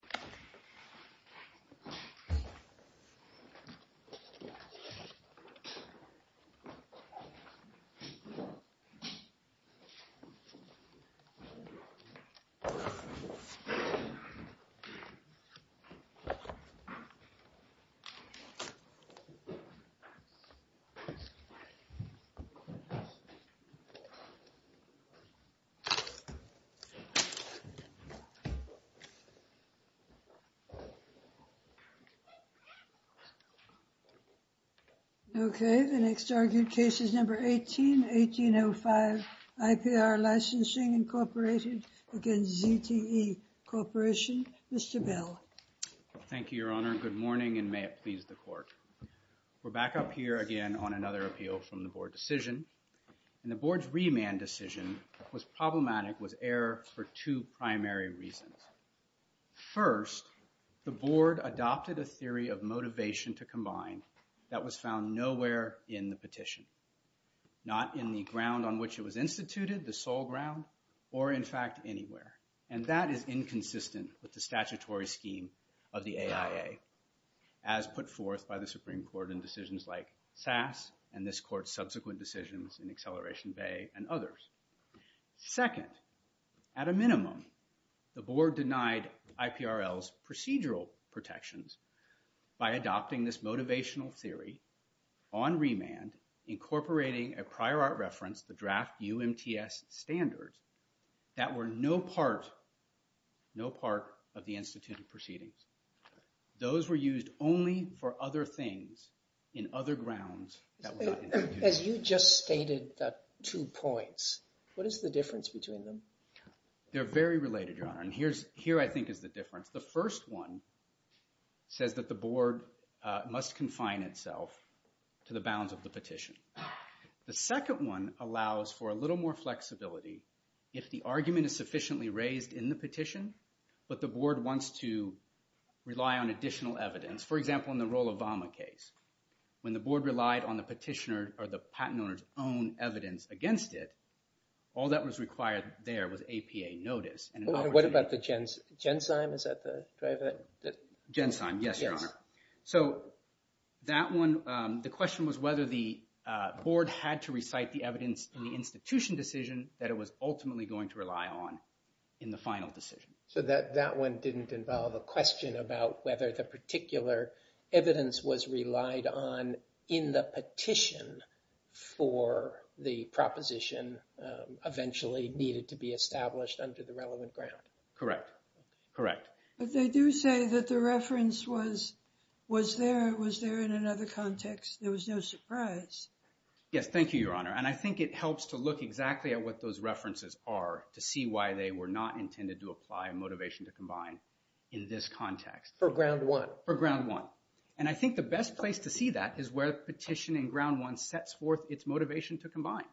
This video was recorded on October 1st, 2021, at 4 p.m. EDT on the ZTE Corporation website. This video was recorded on October 1st, 2021, at 4 p.m. EDT on the ZTE Corporation website. First, the Board adopted a theory of motivation to combine that was found nowhere in the petition. Not in the ground on which it was instituted, the sole ground, or in fact anywhere. And that is inconsistent with the statutory scheme of the AIA, as put forth by the Supreme Court in decisions like SAS, and this Court's subsequent decisions in Acceleration Bay and others. Second, at a minimum, the Board denied IPRL's procedural protections by adopting this motivational theory on remand, incorporating a prior art reference, the draft UMTS standards, that were no part of the instituted proceedings. Those were used only for other things in other grounds that were not introduced. As you just stated the two points, what is the difference between them? They're very related, Your Honor, and here I think is the difference. The first one says that the Board must confine itself to the bounds of the petition. The second one allows for a little more flexibility if the argument is sufficiently raised in the petition, but the Board wants to rely on additional evidence. For example, in the Roll-Obama case, when the Board relied on the petitioner or the patent owner's own evidence against it, all that was required there was APA notice. What about the gen-sign? Is that the driver? Gen-sign, yes, Your Honor. So that one, the question was whether the Board had to recite the evidence in the institution decision that it was ultimately going to rely on in the final decision. So that one didn't involve a question about whether the particular evidence was relied on in the petition for the proposition eventually needed to be established under the relevant ground. Correct, correct. But they do say that the reference was there, it was there in another context, there was no surprise. Yes, thank you, Your Honor, and I think it helps to look exactly at what those references are to see why they were not intended to apply a motivation to combine in this context. For ground one. For ground one. And I think the best place to see that is where the petition in ground one sets forth its motivation to combine.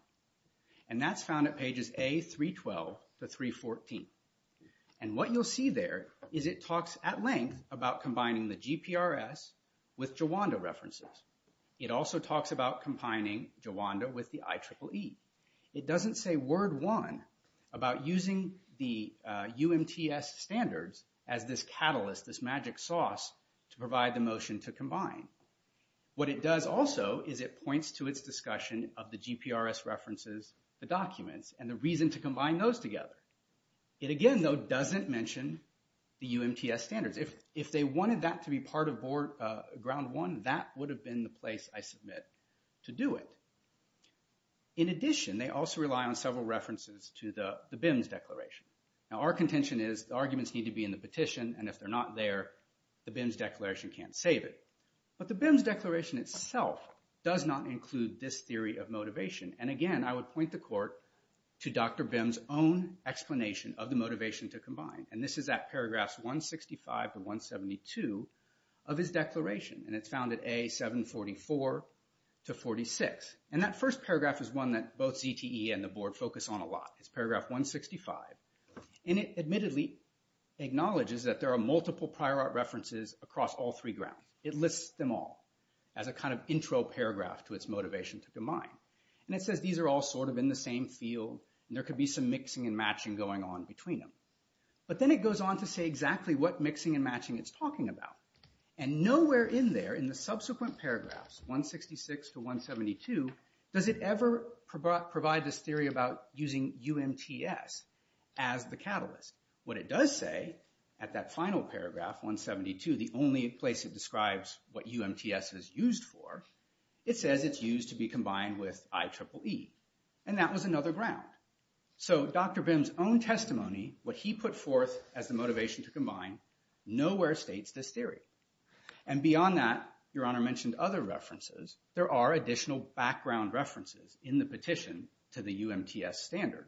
And that's found at pages A312 to 314. And what you'll see there is it talks at length about combining the GPRS with Jawanda references. It also talks about combining Jawanda with the IEEE. It doesn't say word one about using the UMTS standards as this catalyst, this magic sauce, to provide the motion to combine. What it does also is it points to its discussion of the GPRS references, the documents, and the reason to combine those together. It again, though, doesn't mention the UMTS standards. If they wanted that to be part of ground one, that would have been the place, I submit, to do it. In addition, they also rely on several references to the BIMS declaration. Now our contention is the arguments need to be in the petition, and if they're not there, the BIMS declaration can't save it. But the BIMS declaration itself does not include this theory of motivation. And again, I would point the court to Dr. BIMS' own explanation of the motivation to combine. And this is at paragraphs 165 to 172 of his declaration. And it's found at A744 to 46. And that first paragraph is one that both ZTE and the board focus on a lot. It's paragraph 165. And it admittedly acknowledges that there are multiple prior art references across all three grounds. It lists them all as a kind of intro paragraph to its motivation to combine. And it says these are all sort of in the same field, and there could be some mixing and matching going on between them. But then it goes on to say exactly what mixing and matching it's talking about. And nowhere in there in the subsequent paragraphs, 166 to 172, does it ever provide this theory about using UMTS as the catalyst. What it does say at that final paragraph, 172, the only place it describes what UMTS is used for, it says it's used to be combined with IEEE. And that was another ground. So Dr. BIMS' own testimony, what he put forth as the motivation to combine, nowhere states this theory. And beyond that, Your Honor mentioned other references. There are additional background references in the petition to the UMTS standard.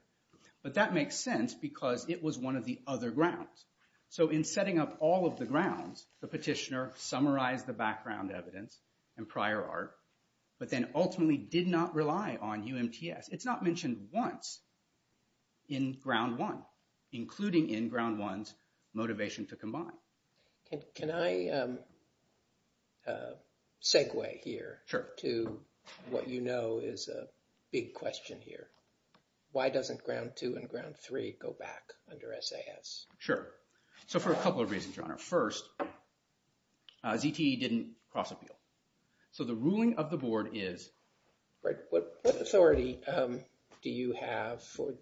But that makes sense because it was one of the other grounds. So in setting up all of the grounds, the petitioner summarized the background evidence and prior art, but then ultimately did not rely on UMTS. It's not mentioned once in Ground 1, including in Ground 1's motivation to combine. Can I segue here to what you know is a big question here? Why doesn't Ground 2 and Ground 3 go back under SAS? Sure. So for a couple of reasons, Your Honor. First, ZTE didn't cross-appeal. So the ruling of the Board is? What authority do you have for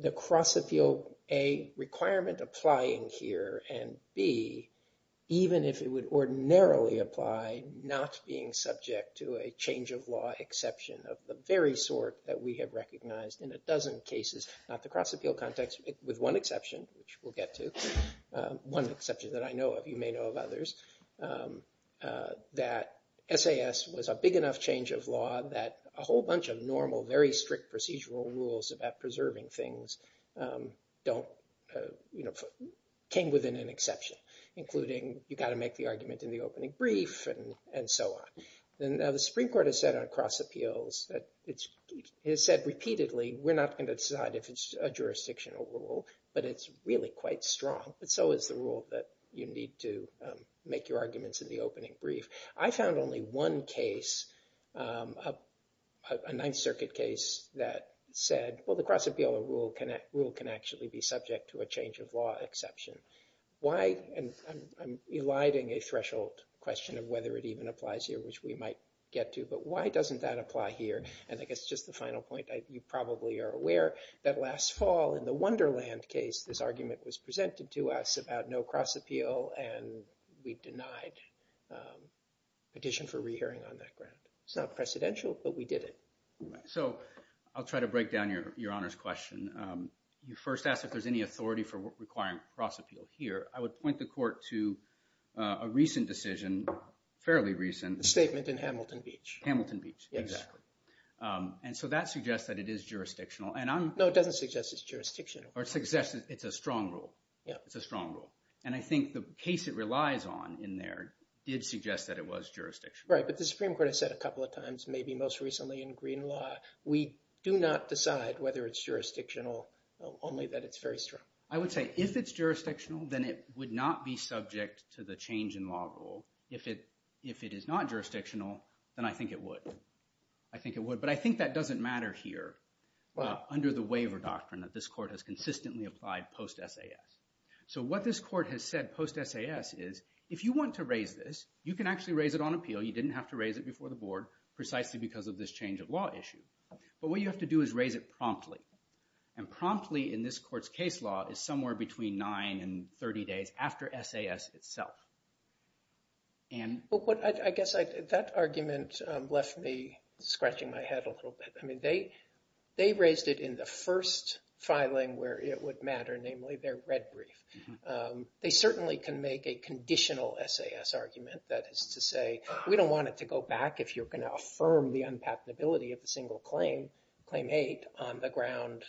the cross-appeal, A, requirement applying here, and B, even if it would ordinarily apply, not being subject to a change of law exception of the very sort that we have recognized in a dozen cases, not the cross-appeal context, with one exception, which we'll get to, one exception that I know of, you may know of others, that SAS was a big enough change of law that a whole bunch of normal, very strict procedural rules about preserving things came within an exception, including you've got to make the argument in the opening brief and so on. Now, the Supreme Court has said on cross-appeals that it has said repeatedly we're not going to decide if it's a jurisdictional rule, but it's really quite strong, but so is the rule that you need to make your arguments in the opening brief. I found only one case, a Ninth Circuit case, that said, well, the cross-appeal rule can actually be subject to a change of law exception. Why? And I'm eliding a threshold question of whether it even applies here, which we might get to, but why doesn't that apply here? And I guess just the final point, you probably are aware that last fall in the Wonderland case, this argument was presented to us about no cross-appeal, and we denied petition for rehearing on that ground. It's not precedential, but we did it. So I'll try to break down your Honor's question. You first asked if there's any authority for requiring cross-appeal here. I would point the Court to a recent decision, fairly recent. The statement in Hamilton Beach. Hamilton Beach, exactly. And so that suggests that it is jurisdictional. No, it doesn't suggest it's jurisdictional. It suggests it's a strong rule. It's a strong rule. And I think the case it relies on in there did suggest that it was jurisdictional. Right, but the Supreme Court has said a couple of times, maybe most recently in green law, we do not decide whether it's jurisdictional, only that it's very strong. I would say if it's jurisdictional, then it would not be subject to the change in law rule. If it is not jurisdictional, then I think it would. I think it would, but I think that doesn't matter here under the waiver doctrine that this Court has consistently applied post-SAS. So what this Court has said post-SAS is if you want to raise this, you can actually raise it on appeal. You didn't have to raise it before the Board precisely because of this change of law issue. But what you have to do is raise it promptly. And promptly in this Court's case law is somewhere between 9 and 30 days after SAS itself. I guess that argument left me scratching my head a little bit. I mean they raised it in the first filing where it would matter, namely their red brief. They certainly can make a conditional SAS argument. That is to say, we don't want it to go back if you're going to affirm the unpatenability of the single claim, Claim 8, on the ground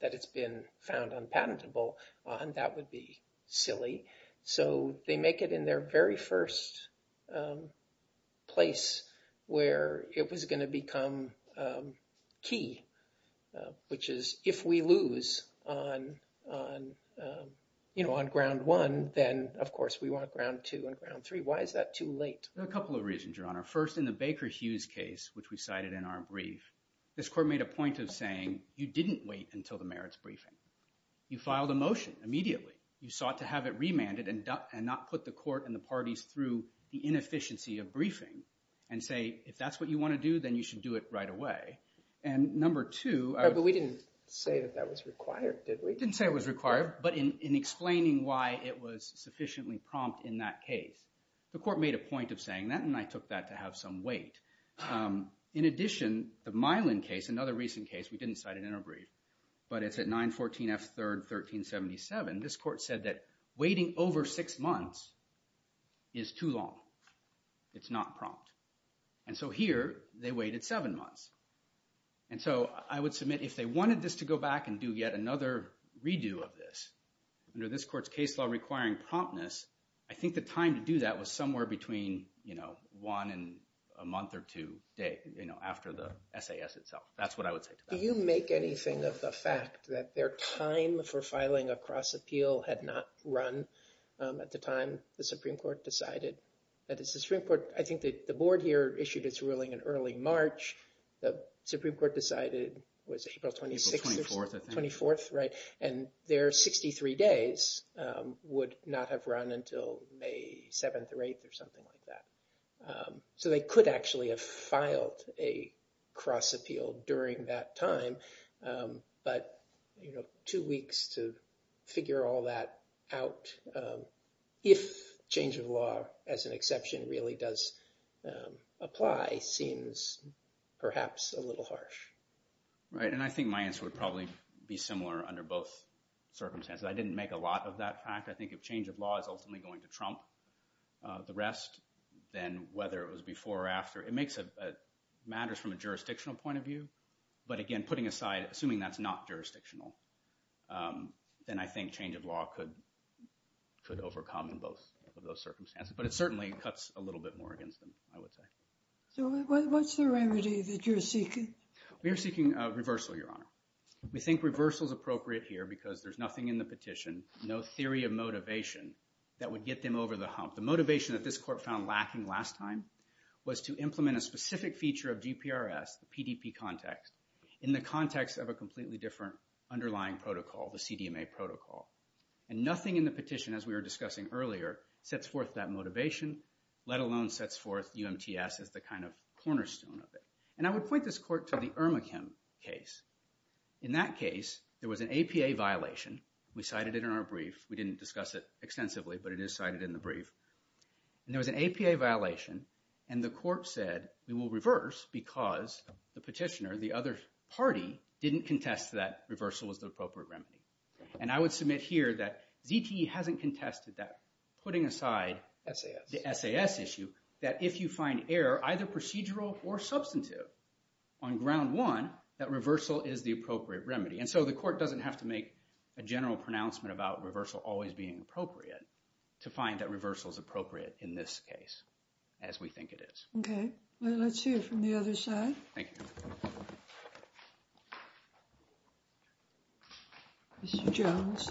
that it's been found unpatentable on. That would be silly. So they make it in their very first place where it was going to become key, which is if we lose on Ground 1, then of course we want Ground 2 and Ground 3. Why is that too late? A couple of reasons, Your Honor. First, in the Baker-Hughes case, which we cited in our brief, this Court made a point of saying you didn't wait until the merits briefing. You filed a motion immediately. You sought to have it remanded and not put the Court and the parties through the inefficiency of briefing and say if that's what you want to do, then you should do it right away. And number two— But we didn't say that that was required, did we? We didn't say it was required, but in explaining why it was sufficiently prompt in that case, the Court made a point of saying that and I took that to have some weight. In addition, the Milan case, another recent case, we didn't cite it in our brief, but it's at 914 F. 3rd, 1377. This Court said that waiting over six months is too long. It's not prompt. And so here they waited seven months. And so I would submit if they wanted this to go back and do yet another redo of this, under this Court's case law requiring promptness, I think the time to do that was somewhere between, you know, one and a month or two days, you know, after the SAS itself. That's what I would say to that. Do you make anything of the fact that their time for filing a cross-appeal had not run at the time the Supreme Court decided? I think the Board here issued its ruling in early March. The Supreme Court decided, was it April 26th? April 24th, I think. April 24th, right. And their 63 days would not have run until May 7th or 8th or something like that. So they could actually have filed a cross-appeal during that time, but, you know, two weeks to figure all that out, if change of law as an exception really does apply, seems perhaps a little harsh. Right, and I think my answer would probably be similar under both circumstances. I didn't make a lot of that fact. I think if change of law is ultimately going to trump the rest, then whether it was before or after, it makes it matters from a jurisdictional point of view. But, again, putting aside, assuming that's not jurisdictional, then I think change of law could overcome in both of those circumstances. But it certainly cuts a little bit more against them, I would say. So what's the remedy that you're seeking? We are seeking a reversal, Your Honor. We think reversal is appropriate here because there's nothing in the petition, no theory of motivation that would get them over the hump. The motivation that this court found lacking last time was to implement a specific feature of GPRS, the PDP context, in the context of a completely different underlying protocol, the CDMA protocol. And nothing in the petition, as we were discussing earlier, sets forth that motivation, let alone sets forth UMTS as the kind of cornerstone of it. And I would point this court to the Irma Kim case. In that case, there was an APA violation. We cited it in our brief. We didn't discuss it extensively, but it is cited in the brief. And there was an APA violation, and the court said, we will reverse because the petitioner, the other party, didn't contest that reversal was the appropriate remedy. And I would submit here that ZTE hasn't contested that, putting aside the SAS issue, that if you find error, either procedural or substantive, on ground one, that reversal is the appropriate remedy. And so the court doesn't have to make a general pronouncement about reversal always being appropriate to find that reversal is appropriate in this case, as we think it is. Okay. Let's hear from the other side. Thank you. Mr. Jones.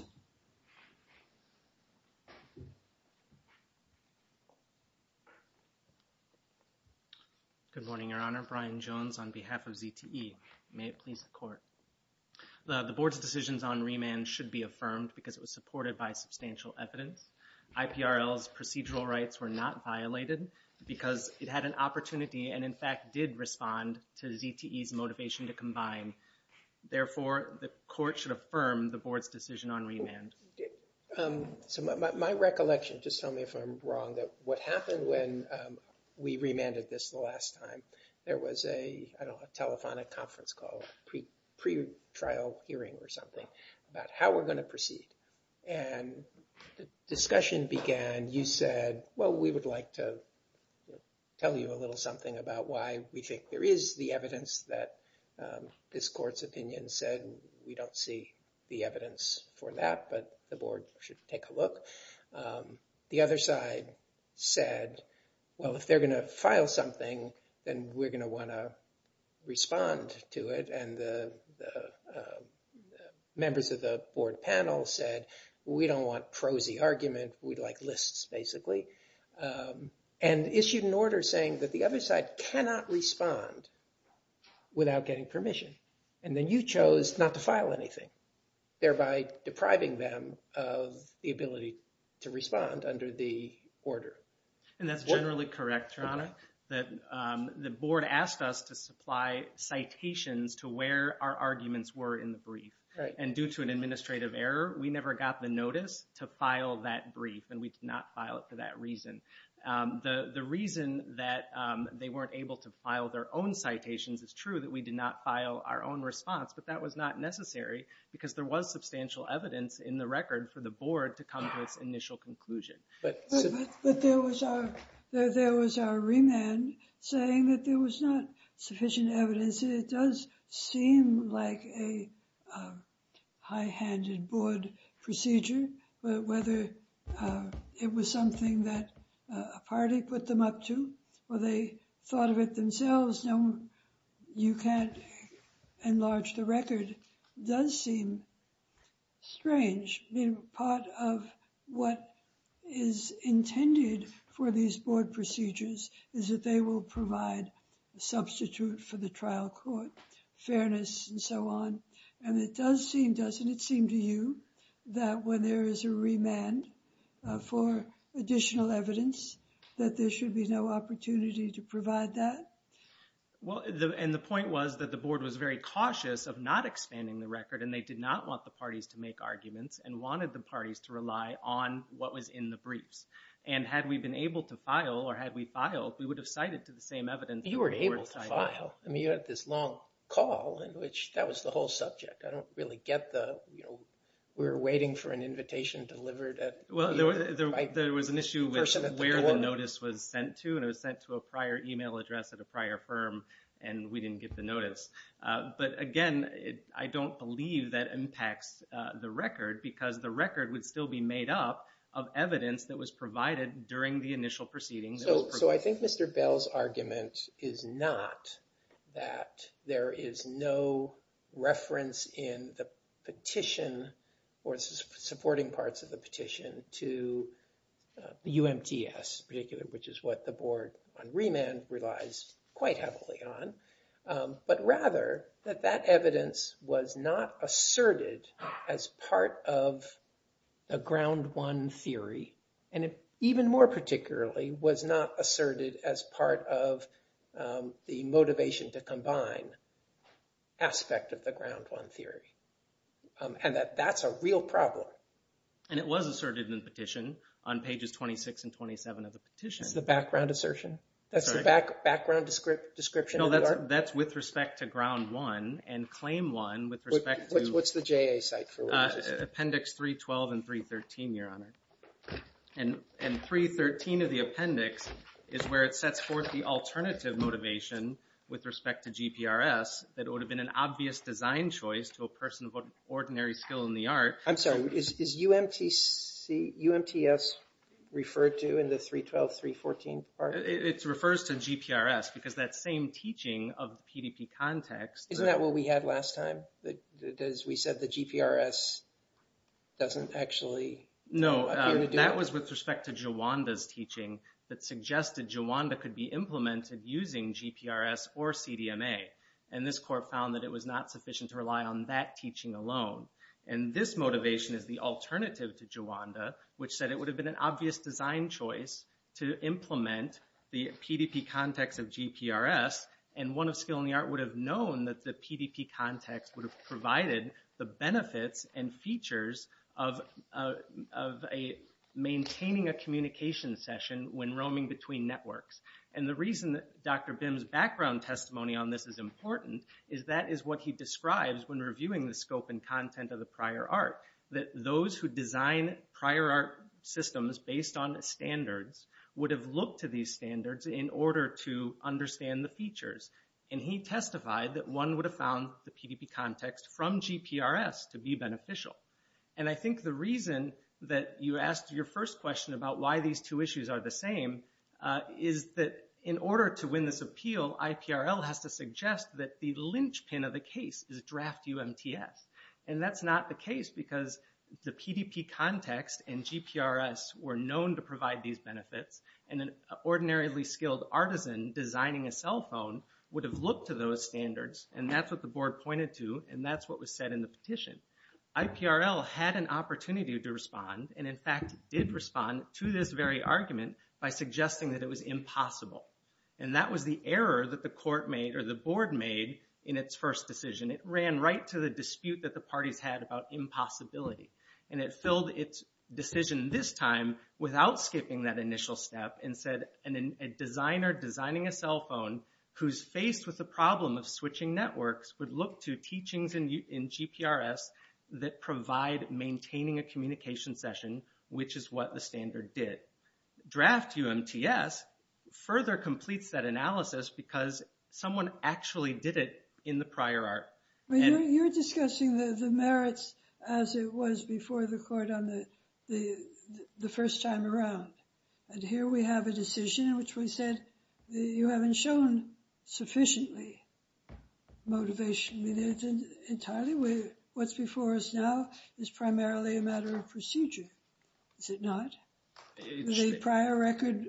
Good morning, Your Honor. Brian Jones on behalf of ZTE. May it please the court. The board's decisions on remand should be affirmed because it was supported by substantial evidence. IPRL's procedural rights were not violated because it had an opportunity and, in fact, did respond to ZTE's motivation to combine. Therefore, the court should affirm the board's decision on remand. So my recollection, just tell me if I'm wrong, that what happened when we remanded this the last time, there was a, I don't know, a telephonic conference call, pre-trial hearing or something, about how we're going to proceed. And the discussion began. You said, well, we would like to tell you a little something about why we think there is the evidence that this court's opinion said. We don't see the evidence for that, but the board should take a look. The other side said, well, if they're going to file something, then we're going to want to respond to it. And the members of the board panel said, we don't want prosy argument. We'd like lists, basically. And issued an order saying that the other side cannot respond without getting permission. And then you chose not to file anything, thereby depriving them of the ability to respond under the order. And that's generally correct, Your Honor. The board asked us to supply citations to where our arguments were in the brief. And due to an administrative error, we never got the notice to file that brief. And we did not file it for that reason. The reason that they weren't able to file their own citations is true, that we did not file our own response. But that was not necessary, because there was substantial evidence in the record for the board to come to its initial conclusion. But there was our remand saying that there was not sufficient evidence. It does seem like a high-handed board procedure. But whether it was something that a party put them up to, or they thought of it themselves, you can't enlarge the record, does seem strange. Part of what is intended for these board procedures is that they will provide a substitute for the trial court, fairness and so on. And it does seem, doesn't it seem to you, that when there is a remand for additional evidence, that there should be no opportunity to provide that? Well, and the point was that the board was very cautious of not expanding the record, and they did not want the parties to make arguments and wanted the parties to rely on what was in the briefs. And had we been able to file, or had we filed, we would have cited to the same evidence that the board cited. You were able to file. I mean, you had this long call, and that was the whole subject. I don't really get the, you know, we were waiting for an invitation delivered at the door. Well, there was an issue with where the notice was sent to, and it was sent to a prior email address at a prior firm, and we didn't get the notice. But, again, I don't believe that impacts the record, because the record would still be made up of evidence that was provided during the initial proceedings. So I think Mr. Bell's argument is not that there is no reference in the petition or supporting parts of the petition to the UMTS in particular, which is what the board on remand relies quite heavily on, but rather that that evidence was not asserted as part of a ground one theory, and even more particularly was not asserted as part of the motivation to combine aspect of the ground one theory, and that that's a real problem. And it was asserted in the petition on pages 26 and 27 of the petition. That's the background assertion? That's the background description? No, that's with respect to ground one, and claim one with respect to What's the JA site for? Appendix 312 and 313, Your Honor. And 313 of the appendix is where it sets forth the alternative motivation with respect to GPRS that would have been an obvious design choice to a person of ordinary skill in the art. I'm sorry, is UMTS referred to in the 312, 314 part? It refers to GPRS, because that same teaching of the PDP context. Isn't that what we had last time? As we said, the GPRS doesn't actually appear to do it? No, that was with respect to Jawanda's teaching that suggested Jawanda could be implemented using GPRS or CDMA, and this court found that it was not sufficient to rely on that teaching alone. And this motivation is the alternative to Jawanda, which said it would have been an obvious design choice to implement the PDP context of GPRS, and one of skill in the art would have known that the PDP context would have provided the benefits and features of maintaining a communication session when roaming between networks. And the reason that Dr. Bim's background testimony on this is important is that is what he describes when reviewing the scope and content of the prior art, that those who design prior art systems based on standards would have looked to these standards in order to understand the features. And he testified that one would have found the PDP context from GPRS to be beneficial. And I think the reason that you asked your first question about why these two issues are the same is that in order to win this appeal, IPRL has to suggest that the linchpin of the case is draft UMTS. And that's not the case, because the PDP context and GPRS were known to provide these benefits, and an ordinarily skilled artisan designing a cell phone would have looked to those standards, and that's what the board pointed to, and that's what was said in the petition. IPRL had an opportunity to respond, and in fact did respond to this very argument by suggesting that it was impossible. And that was the error that the court made, or the board made, in its first decision. It ran right to the dispute that the parties had about impossibility. And it filled its decision this time without skipping that initial step and said a designer designing a cell phone who's faced with the problem of switching networks would look to teachings in GPRS that provide maintaining a communication session, which is what the standard did. Draft UMTS further completes that analysis because someone actually did it in the prior art. You're discussing the merits as it was before the court on the first time around. And here we have a decision in which we said you haven't shown sufficiently motivation. Entirely what's before us now is primarily a matter of procedure. Is it not? The prior record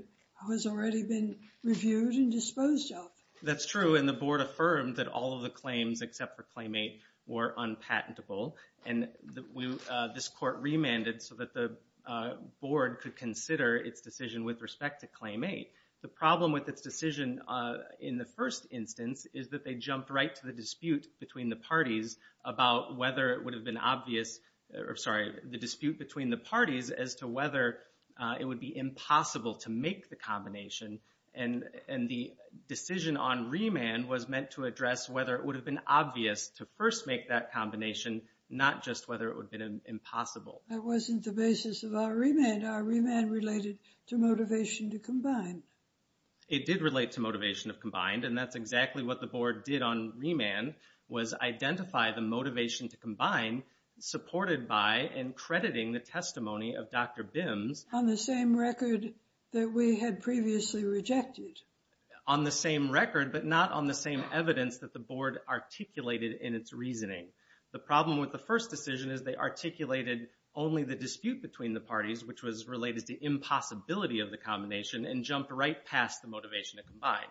has already been reviewed and disposed of. That's true, and the board affirmed that all of the claims except for Claim 8 were unpatentable. And this court remanded so that the board could consider its decision with respect to Claim 8. The problem with its decision in the first instance is that they jumped right to the dispute between the parties about whether it would have been obvious, sorry, the dispute between the parties as to whether it would be impossible to make the combination. And the decision on remand was meant to address whether it would have been obvious to first make that combination, not just whether it would have been impossible. That wasn't the basis of our remand. Our remand related to motivation to combine. It did relate to motivation to combine, and that's exactly what the board did on remand was identify the motivation to combine supported by and crediting the testimony of Dr. Bims. On the same record that we had previously rejected. On the same record, but not on the same evidence that the board articulated in its reasoning. The problem with the first decision is they articulated only the dispute between the parties, which was related to impossibility of the combination, and jumped right past the motivation to combine.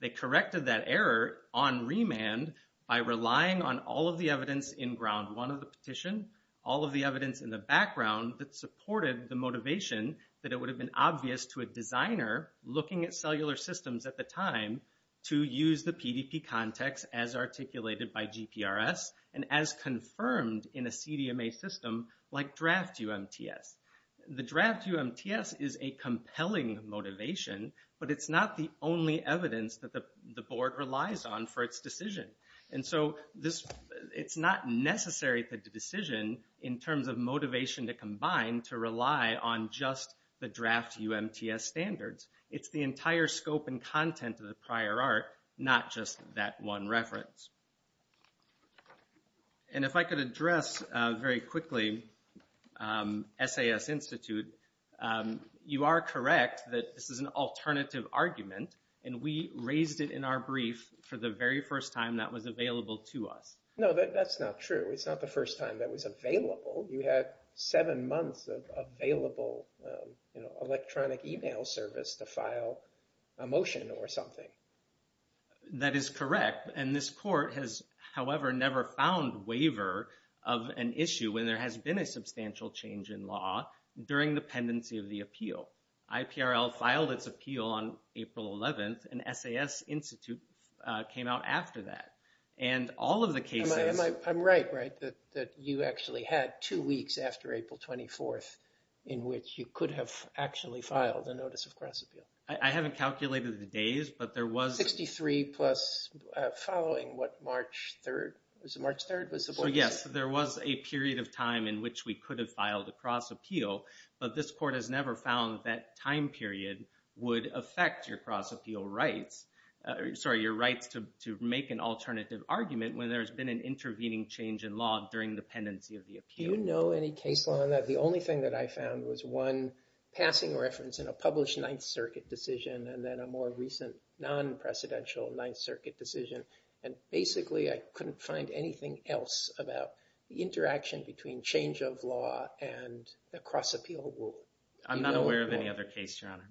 They corrected that error on remand by relying on all of the evidence in Ground 1 of the petition, all of the evidence in the background that supported the motivation that it would have been obvious to a designer looking at cellular systems at the time to use the PDP context as articulated by GPRS and as confirmed in a CDMA system like Draft UMTS. The Draft UMTS is a compelling motivation, but it's not the only evidence that the board relies on for its decision. And so it's not necessary to decision in terms of motivation to combine to rely on just the Draft UMTS standards. It's the entire scope and content of the prior art, not just that one reference. And if I could address very quickly, SAS Institute, you are correct that this is an alternative argument, and we raised it in our brief for the very first time that was available to us. No, that's not true. It's not the first time that was available. You had seven months of available electronic email service to file a motion or something. That is correct. And this court has, however, never found waiver of an issue when there has been a substantial change in law during the pendency of the appeal. IPRL filed its appeal on April 11th, and SAS Institute came out after that. And all of the cases... I'm right, right, that you actually had two weeks after April 24th in which you could have actually filed a notice of cross-appeal. I haven't calculated the days, but there was... 63 plus following what March 3rd. Was it March 3rd was the... So, yes, there was a period of time in which we could have filed a cross-appeal, but this court has never found that time period would affect your cross-appeal rights. Sorry, your rights to make an alternative argument when there's been an intervening change in law during the pendency of the appeal. Do you know any case law on that? The only thing that I found was one passing reference in a published Ninth Circuit decision and then a more recent non-presidential Ninth Circuit decision. And basically, I couldn't find anything else about the interaction between change of law and a cross-appeal rule. I'm not aware of any other case, Your Honor.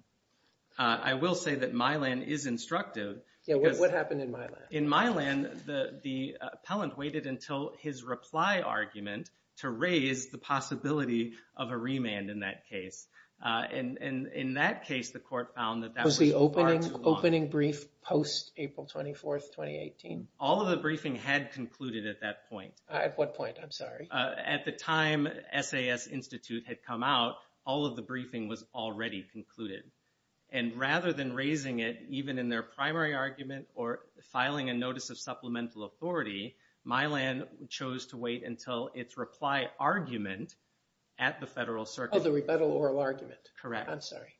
I will say that Mylan is instructive. Yeah, what happened in Mylan? In Mylan, the appellant waited until his reply argument to raise the possibility of a remand in that case. And in that case, the court found that... Was the opening brief post-April 24th, 2018? All of the briefing had concluded at that point. At what point? I'm sorry. At the time SAS Institute had come out, all of the briefing was already concluded. And rather than raising it even in their primary argument or filing a notice of supplemental authority, Mylan chose to wait until its reply argument at the Federal Circuit... Oh, the rebuttal oral argument. Correct. I'm sorry.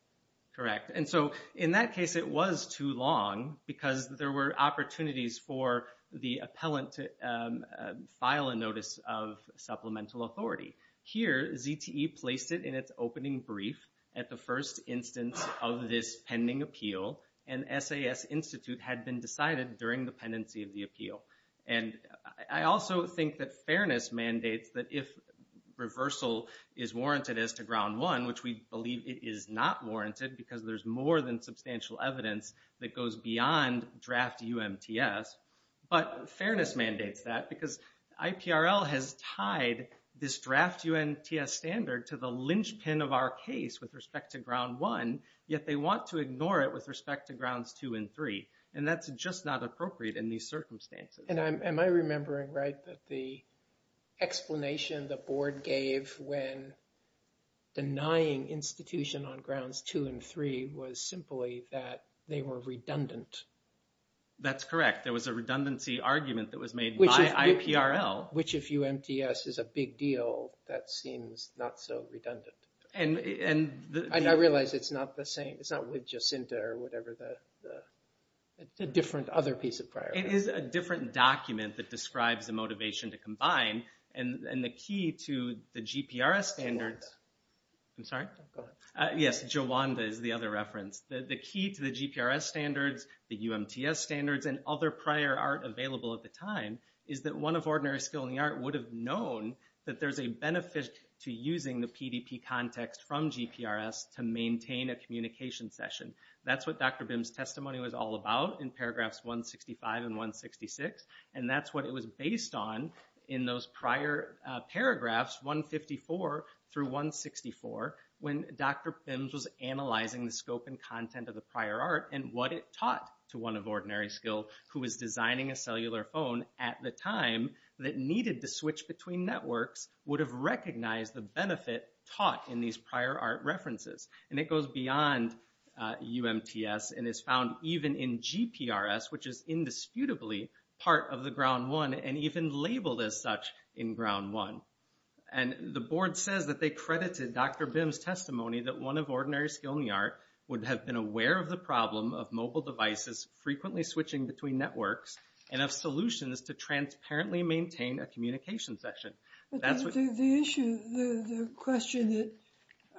Correct. And so, in that case, it was too long because there were opportunities for the appellant to file a notice of supplemental authority. Here, ZTE placed it in its opening brief at the first instance of this pending appeal, and SAS Institute had been decided during the pendency of the appeal. And I also think that fairness mandates that if reversal is warranted as to ground one, which we believe it is not warranted because there's more than substantial evidence that goes beyond draft UMTS, but fairness mandates that because IPRL has tied this draft UMTS standard to the linchpin of our case with respect to ground one, yet they want to ignore it with respect to grounds two and three. And that's just not appropriate in these circumstances. And am I remembering right that the explanation the board gave when denying institution on grounds two and three was simply that they were redundant? That's correct. There was a redundancy argument that was made by IPRL. Which if UMTS is a big deal, that seems not so redundant. And I realize it's not the same, it's not with Jacinta or whatever, the different other piece of prior art. It is a different document that describes the motivation to combine, and the key to the GPRS standards. Jowanda. I'm sorry? Go ahead. Yes, Jowanda is the other reference. The key to the GPRS standards, the UMTS standards, and other prior art available at the time, is that one of ordinary skill in the art would have known that there's a benefit to using the PDP context from GPRS to maintain a communication session. That's what Dr. Bims' testimony was all about in paragraphs 165 and 166. And that's what it was based on in those prior paragraphs, 154 through 164, when Dr. Bims was analyzing the scope and content of the prior art, and what it taught to one of ordinary skill who was designing a cellular phone at the time that needed to switch between networks would have recognized the benefit taught in these prior art references. And it goes beyond UMTS, and is found even in GPRS, which is indisputably part of the ground one, and even labeled as such in ground one. And the board says that they credited Dr. Bims' testimony that one of ordinary skill in the art would have been aware of the problem of mobile devices frequently switching between networks and of solutions to transparently maintain a communication session. That's what... The issue, the question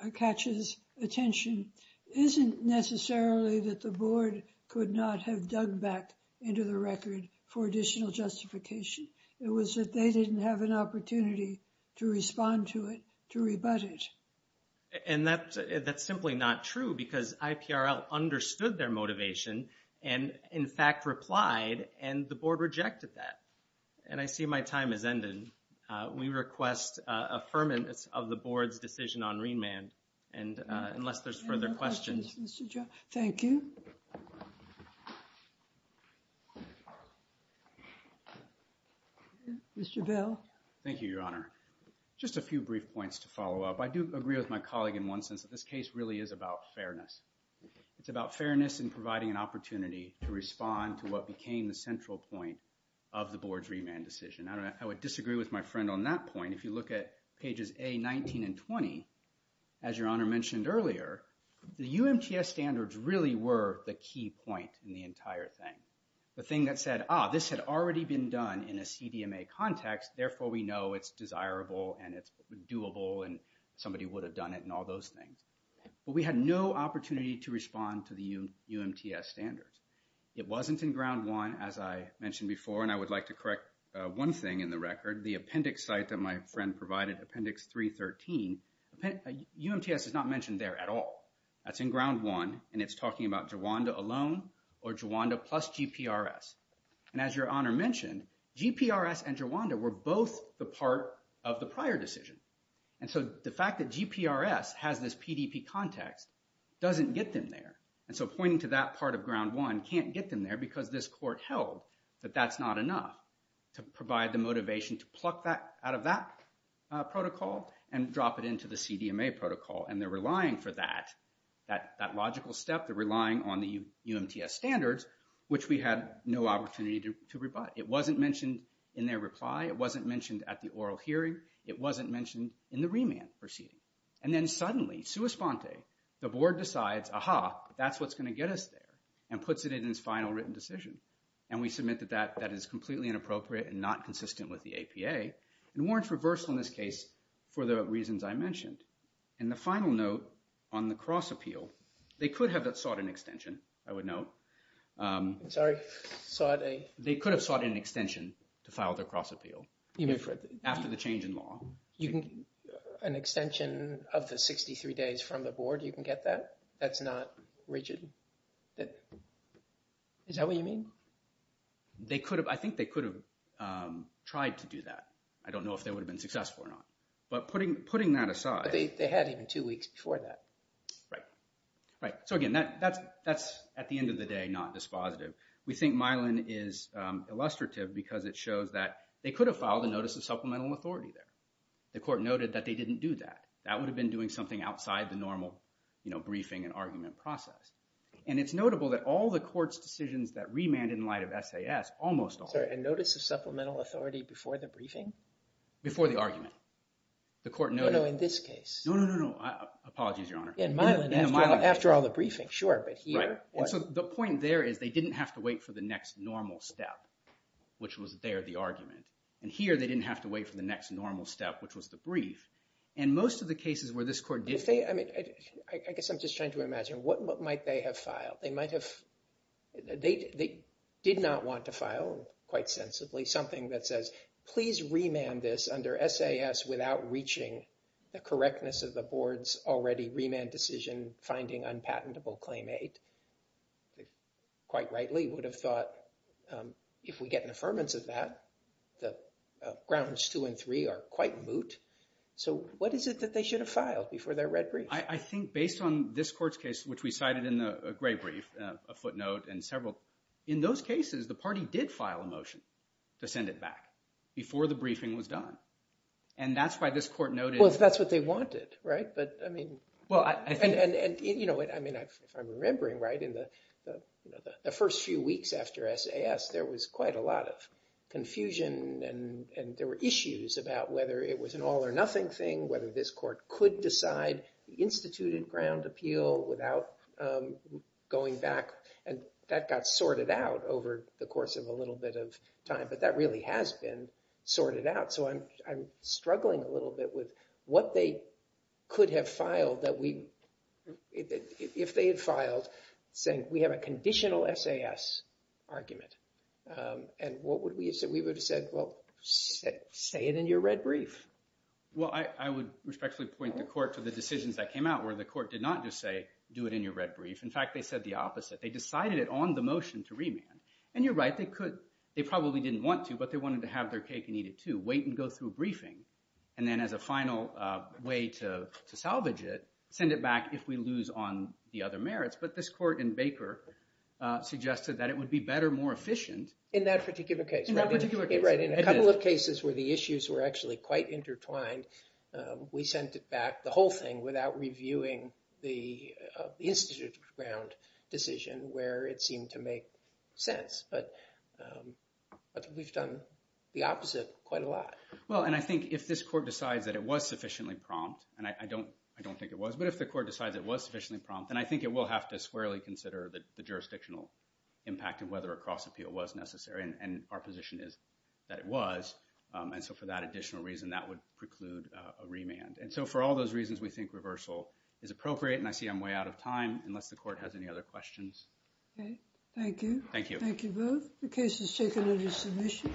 that catches attention isn't necessarily that the board could not have dug back into the record for additional justification. It was that they didn't have an opportunity to respond to it, to rebut it. And that's simply not true, because IPRL understood their motivation and, in fact, replied, and the board rejected that. And I see my time has ended. We request affirmance of the board's decision on remand, unless there's further questions. Thank you. Mr. Bell. Thank you, Your Honor. Just a few brief points to follow up. I do agree with my colleague in one sense, that this case really is about fairness. It's about fairness and providing an opportunity to respond to what became the central point of the board's remand decision. I would disagree with my friend on that point. If you look at pages A, 19, and 20, as Your Honor mentioned earlier, the UMTS standards really were the key point in the entire thing. The thing that said, ah, this had already been done in a CDMA context, therefore we know it's desirable and it's doable and somebody would have done it and all those things. But we had no opportunity to respond to the UMTS standards. It wasn't in Ground 1, as I mentioned before, and I would like to correct one thing in the record. The appendix site that my friend provided, Appendix 313, UMTS is not mentioned there at all. That's in Ground 1, and it's talking about Jawanda alone or Jawanda plus GPRS. And as Your Honor mentioned, GPRS and Jawanda were both the part of the prior decision. And so the fact that GPRS has this PDP context doesn't get them there. And so pointing to that part of Ground 1 can't get them there because this court held that that's not enough to provide the motivation to pluck that out of that protocol and drop it into the CDMA protocol. And they're relying for that, that logical step, they're relying on the UMTS standards, which we had no opportunity to rebut. It wasn't mentioned in their reply. It wasn't mentioned at the oral hearing. It wasn't mentioned in the remand proceeding. And then suddenly, sua sponte, the board decides, aha, that's what's going to get us there and puts it in its final written decision. And we submit that that is completely inappropriate and not consistent with the APA and warrants reversal in this case for the reasons I mentioned. And the final note on the cross appeal, they could have sought an extension, I would note. Sorry, sought a... They could have sought an extension to file their cross appeal after the change in law. An extension of the 63 days from the board, you can get that? That's not rigid? Is that what you mean? I think they could have tried to do that. I don't know if they would have been successful or not. But putting that aside... They had even two weeks before that. Right. Right. So again, that's, at the end of the day, not dispositive. We think Milan is illustrative because it shows that they could have filed a notice of supplemental authority there. The court noted that they didn't do that. That would have been doing something outside the normal briefing and argument process. And it's notable that all the court's decisions that remanded in light of SAS, almost all... Sorry, a notice of supplemental authority before the briefing? Before the argument. No, no, in this case. No, no, no, no. Apologies, Your Honor. In Milan, after all the briefing, sure, but here... The point there is they didn't have to wait for the next normal step, which was there, the argument. And here, they didn't have to wait for the next normal step, which was the brief. And most of the cases where this court did... I guess I'm just trying to imagine, what might they have filed? They might have... They did not want to file, quite sensibly, something that says, please remand this under SAS without reaching the correctness of the board's already remand decision, and finding unpatentable claim eight. They quite rightly would have thought, if we get an affirmance of that, the grounds two and three are quite moot. So what is it that they should have filed before their red brief? I think based on this court's case, which we cited in the gray brief, a footnote and several... In those cases, the party did file a motion to send it back before the briefing was done. And that's why this court noted... Well, if that's what they wanted, right? But, I mean... Well, I think... And, you know, if I'm remembering right, in the first few weeks after SAS, there was quite a lot of confusion, and there were issues about whether it was an all or nothing thing, whether this court could decide the instituted ground appeal without going back. And that got sorted out over the course of a little bit of time. But that really has been sorted out. So I'm struggling a little bit with what they could have filed that we... If they had filed saying, we have a conditional SAS argument. And what would we have said? We would have said, well, say it in your red brief. Well, I would respectfully point the court to the decisions that came out where the court did not just say, do it in your red brief. In fact, they said the opposite. They decided it on the motion to remand. And you're right, they could... but they wanted to have their cake and eat it too. Wait and go through a briefing. And then as a final way to salvage it, send it back if we lose on the other merits. But this court in Baker suggested that it would be better, more efficient. In that particular case. In that particular case. Right, in a couple of cases where the issues were actually quite intertwined, we sent it back, the whole thing, without reviewing the instituted ground decision where it seemed to make sense. But we've done the opposite quite a lot. Well, and I think if this court decides that it was sufficiently prompt, and I don't think it was, but if the court decides it was sufficiently prompt, then I think it will have to squarely consider the jurisdictional impact of whether a cross appeal was necessary. And our position is that it was. And so for that additional reason, that would preclude a remand. And so for all those reasons, we think reversal is appropriate. And I see I'm way out of time, unless the court has any other questions. Okay, thank you. Thank you. Thank you both. The case is taken under submission.